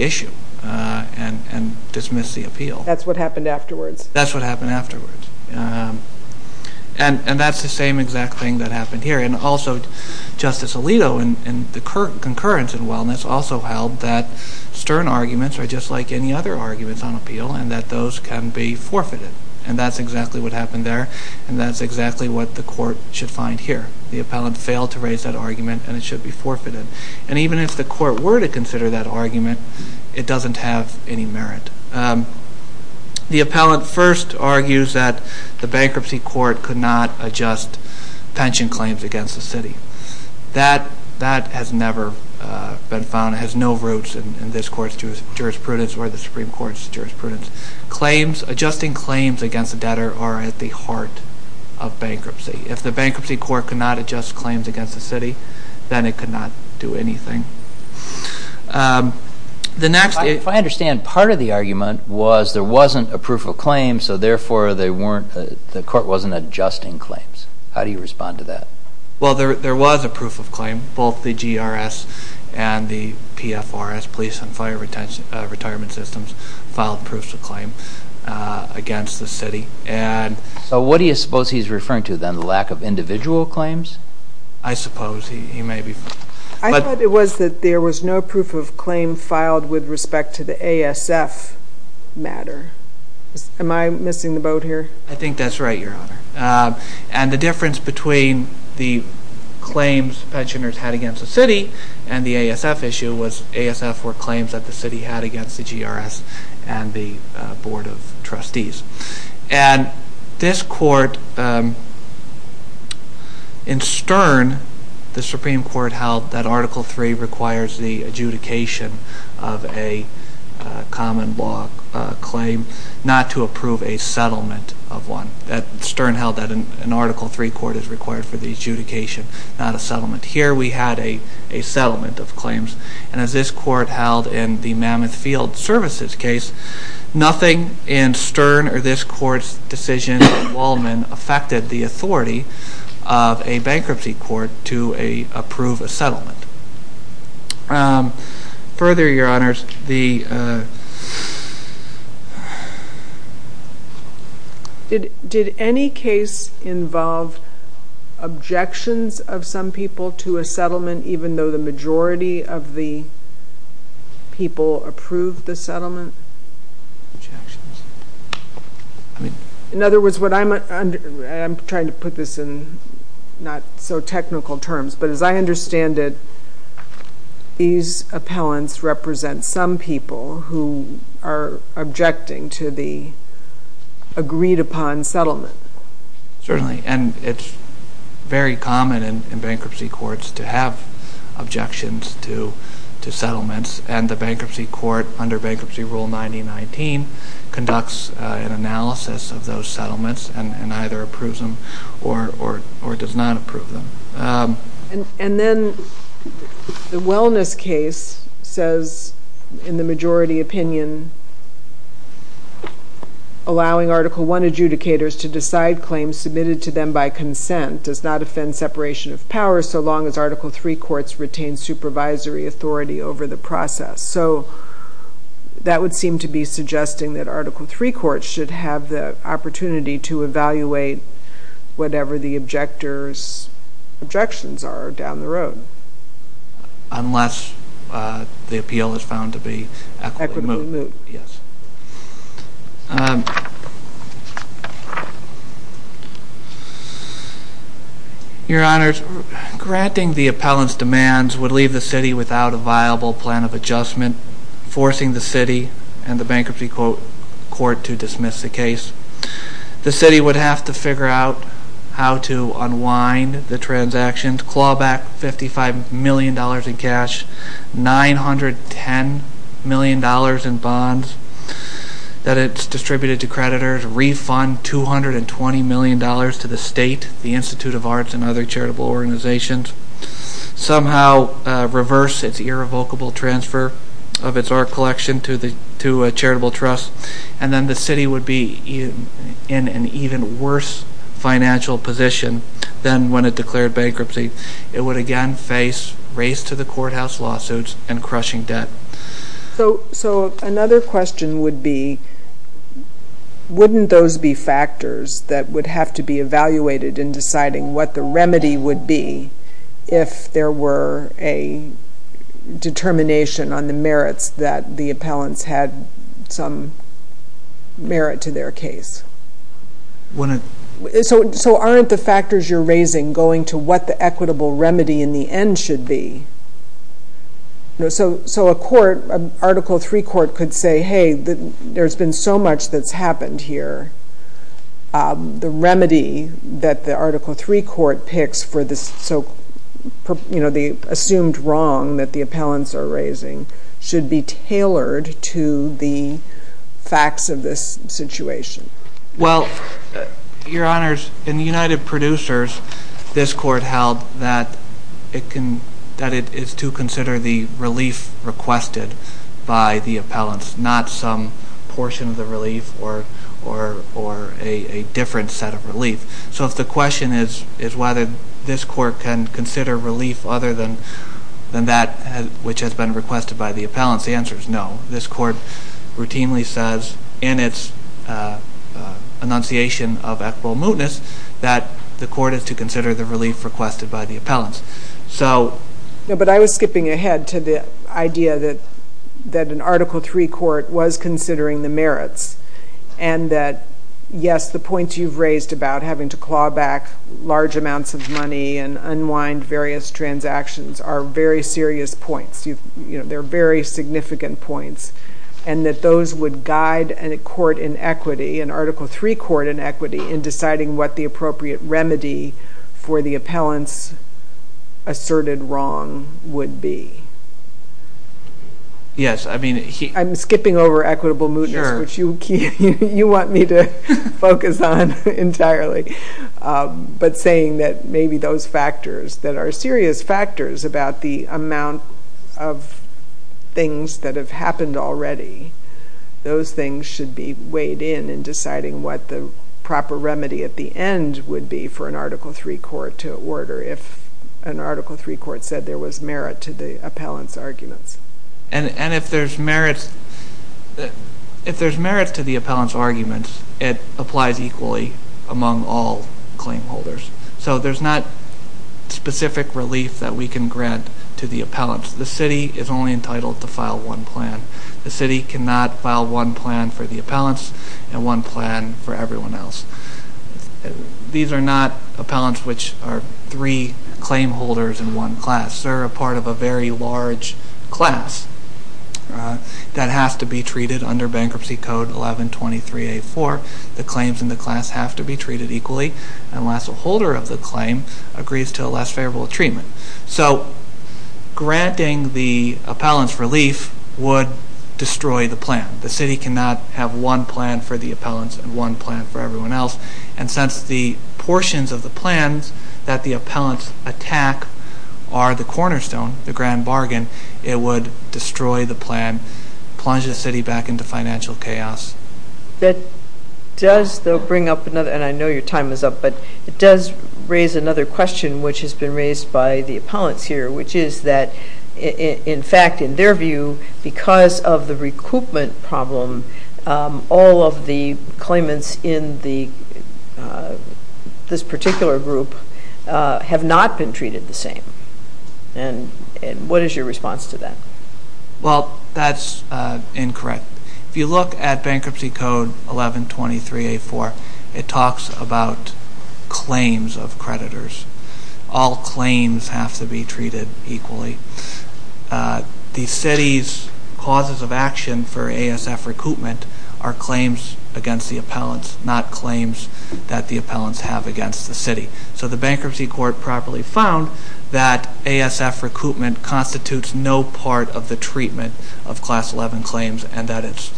issue. Uh, and, and d That's what happened afte afterwards. Um, and that' thing that happened here. and the concurrence and w that stern arguments are arguments on appeal and t forfeited. And that's exa there. And that's exactly should find here. The app that argument and it shou And even if the court wer argument, it doesn't have appellant first argues th could not adjust pension city. That that has never no roots in this court's or the Supreme Court's ju adjusting claims against at the heart of bankruptcy court could not adjust cl then it could not do anyt if I understand part of t there wasn't a proof of c they weren't, the court w How do you respond to tha a proof of claim, both th police and fire retention a claim against the city. suppose he's referring to claims? I suppose he may that there was no proof o respect to the A. S. F. M the boat here? I think th Um, and the difference be pensioners had against the issue was A. S. F. Four c the G. R. S. And the boar this court, um, in Stern, held that Article three r of a common law claim not of one that Stern held th court is required for the a settlement. Here we had of claims. And as this co field services case, noth this court's decision, Wa the authority of a bankru a settlement. Um, further involved objections of so to a settlement, even tho of the people approved th was what I'm trying to pu technical terms. But as I appellants represent some to the agreed upon settle and it's very common in b to have objections to, to bankruptcy court under ba conducts an analysis of t and either approves them them. Um, and then the we the majority opinion allo to decide claims submitted does not offend separatio as Article three courts r authority over the process to be suggesting that Art have the opportunity to e the objectors objections are down the road. Unless to be equitable. Yes. Um, the appellant's demands w without a viable plan of the city and the bankrupt the case. The city would how to unwind the transac in cash, $910 million in to creditors, refund $220 the Institute of Arts and organizations somehow rev transfer of its art colle trust. And then the city would be in an even worse than when it declared ban again face race to the qu and crushing debt. So, so would be, wouldn't those have to be evaluated in d would be if there were a on the merits that the ap to their case. So, so are raising going to what the in the end should be. So, three court could say, hey so much that's happened h that the Article three co for this. So, you know, t that the appellants are r to the facts of this situ honors in the United Prod that it can, that it is t requested by the appellant of the relief or, or, or So if the question is, is can consider relief other has been requested by the No, this court routinely of equitable mootness, th the relief requested by t I was skipping ahead to t an Article three court wa the merits and that yes, about having to claw back and unwind various transa points. You know, there a points and that those wou inequity and Article three in deciding what the appr the appellants asserted w would be. Yes. I mean, I' moot. If you, you want me Um, but saying that maybe are serious factors about that have happened alread should be weighed in and remedy at the end would b to order. If an Article t merit to the appellant's there's merit, if there's arguments, it applies eq claim holders. So there's that we can grant to the is only entitled to file cannot file one plan for one plan for everyone els are three claim holders i part of a very large clas treated under bankruptcy c in the class have to be t a holder of the claim agr treatment. So granting th would destroy the plan. T one plan for the appellant one plan for everyone els of the plans that the app cornerstone, the grand ba the plan plunges the city chaos. That does bring up time is up, but it does r which has been raised by is that in fact, in their problem, all of the claim group have not been treate is your response to that? incorrect. If you look at it talks about claims of have to be treated equally The city's causes of acti are claims against the ap that the appellants have So the bankruptcy court p ASF recruitment constitutes of class 11 claims and th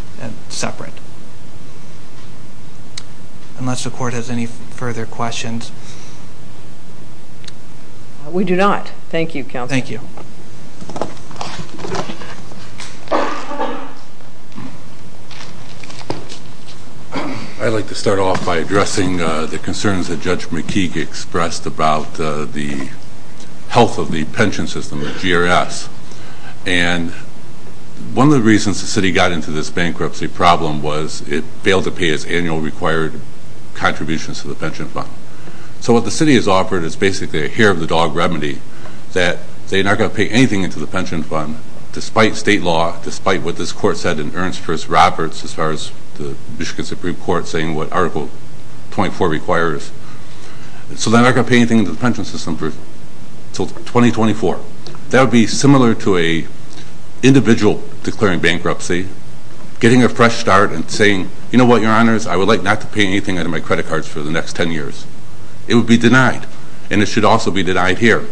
Unless the court has any f questions. We do not. Tha you. I'd like to start of the concerns that judge M the health of the pension And one of the reasons th bankruptcy problem was it annual required contributi fund. So what the city is a hair of the dog remedy pay anything into the pen state law, despite what t Ernst Roberts, as far as saying what article 24 re gonna pay anything in the 2024. That would be simil declaring bankruptcy, get saying, you know what? Yo not to pay anything out o the next 10 years. It wou should also be denied her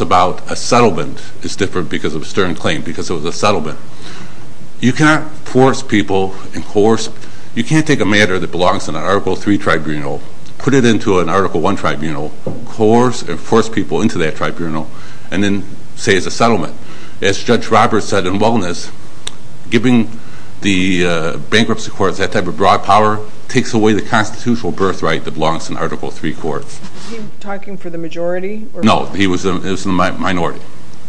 about a settlement is dif stern claim because it wa cannot force people incor a matter that belongs in put it into an article one and force people into that and then say it's a settl said in wellness giving t that type of broad power t birthright that belongs i he talking for the majori minority.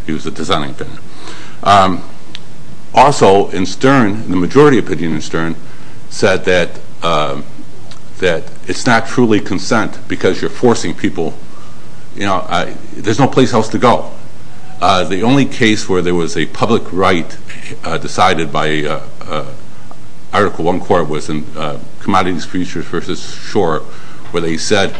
He was a design the majority opinion in S it's not truly consent be people, you know, there's to go. The only case wher right decided by uh artic uh commodities features f said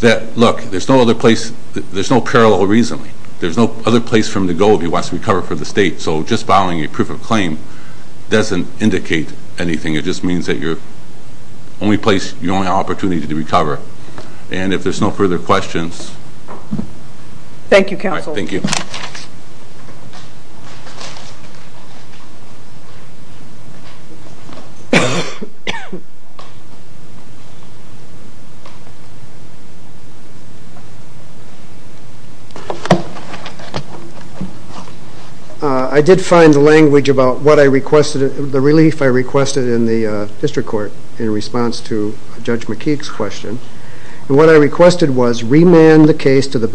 that look, there's n no parallel reason. There' from the gold. He wants t state. So just following doesn't indicate anything that you're only place yo need to recover. And if t questions, thank you. Thank did find language about w the relief I requested in to judge McKee's question was remand the case to th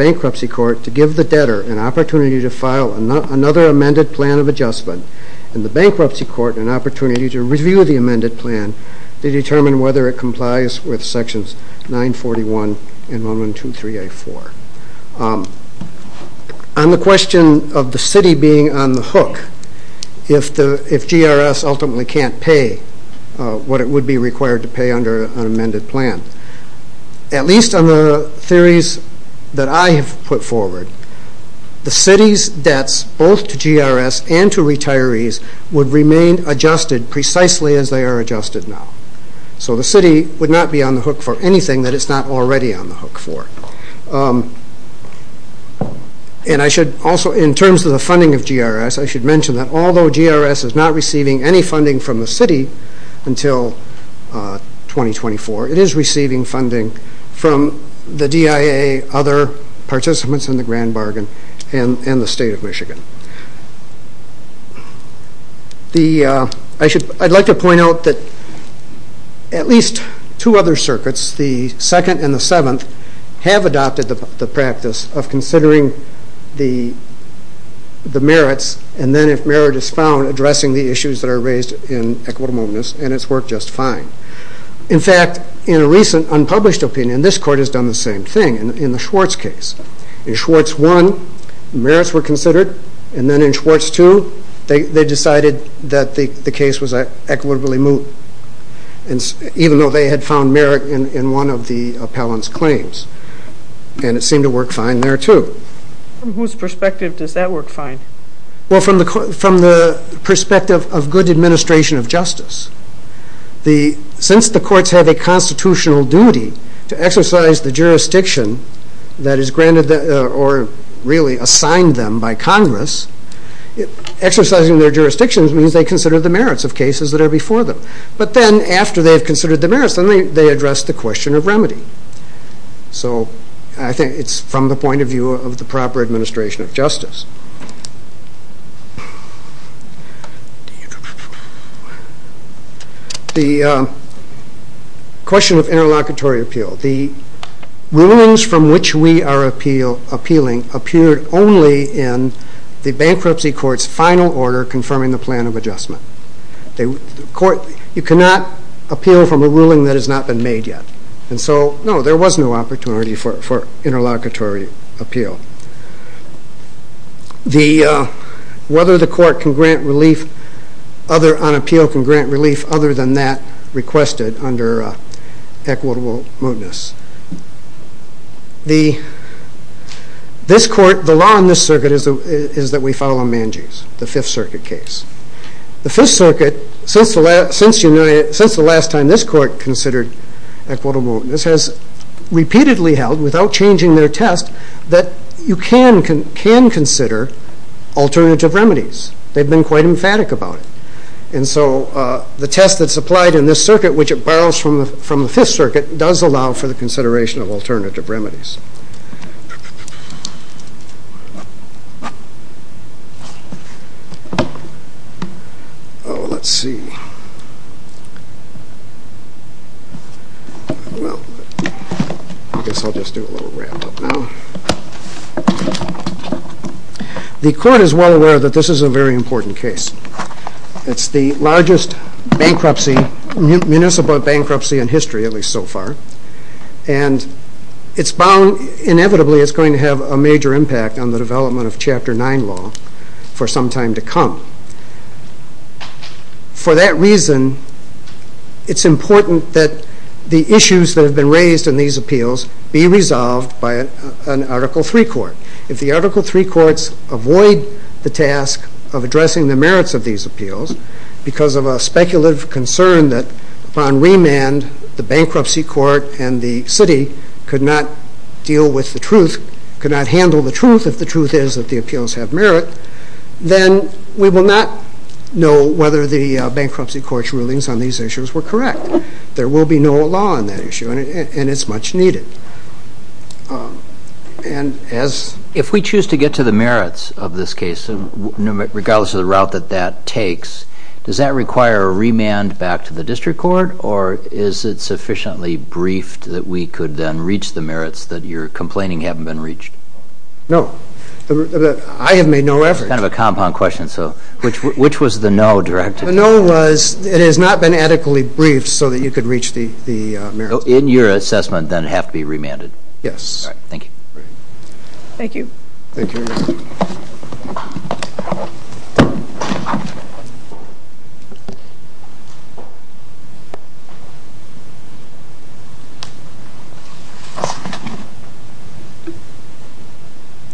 give the debtor an opport amended plan of adjustmen court an opportunity to r plan to determine whether sections 9 41 and 1 1 2 3 of the city being on the ultimately can't pay what to pay under an amended p theories that I have put debts both to GRS and to adjusted precisely as the So the city would not be that it's not already on I should also in terms of should mention that altho any funding from the city receiving funding from th in the grand bargain and The I should, I'd like to least two other circuits, the seventh have adopted the practice of consideri And then if merit is foun that are raised in equita just fine. In fact, in a opinion, this court has d in the Schwartz case in S considered and then in Sw that the case was equitabl though they had found mer of the appellant's claims fine there to whose persp fine? Well, from the, fr of good administration of the courts have a constit the jurisdiction that is assigned them by Congress means they consider the m that are before them. But the merits and they addre of remedy. So I think it' view of the proper admini interlocutory appeal. The bankruptcy court's final the plan of adjustment. C from a ruling that has no so, no, there was no oppo appeal. The, uh, whether relief, other on appeal c other than that requested mootness. The, this court circuit is, is that we fo the fifth circuit case, t since the last, since you time this court considere has repeatedly held witho that you can, can, can co remedies. They've been qu And so, uh, the test that which it borrows from, fr the, let's see, well, I g a little ramp up now. The that this is a very impor largest bankruptcy, munic history, at least so far. it's going to have a majo of chapter nine law for s that reason, it's importa that have been raised in t resolved by an article th three courts avoid the ta merits of these appeals b concern that on remand, t and the city could not dea the truth. If the truth i merit, then we will not k court's rulings on these There will be no law on t much needed. Um, and as i to the merits of this cas route that that takes, do back to the district cour briefed that we could then that you're complaining h No, I have made no kind of So which, which was the n it has not been adequately you could reach the, the then have to be remanded.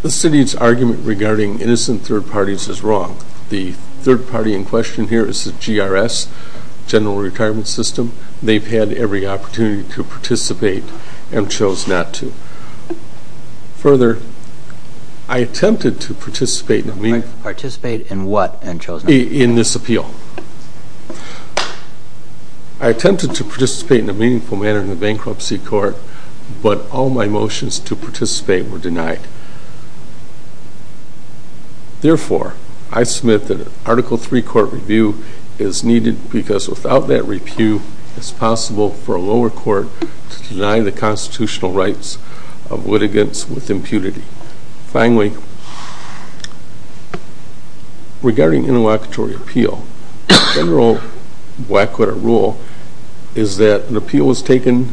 The city's argument regar parties is wrong. The thi here is the G. R. S. Gene They've had every opportu and chose not to further. in the mean, participate this appeal. I attempted t in a meaningful manner in but all my motions to par Therefore, I've smithed t court review is needed bec it's possible for a lower rights of litigants with interlocutory appeal. Gen rule is that the appeal w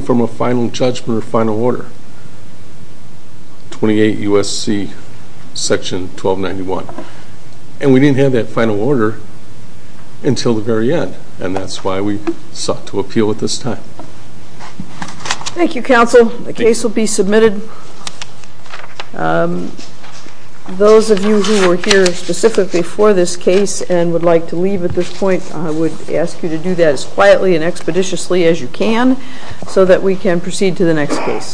a final judgment, final o 12 91. And we didn't have until the very end. And t to appeal at this time. T case will be submitted. U who were here specifically this case and would like point, I would ask you to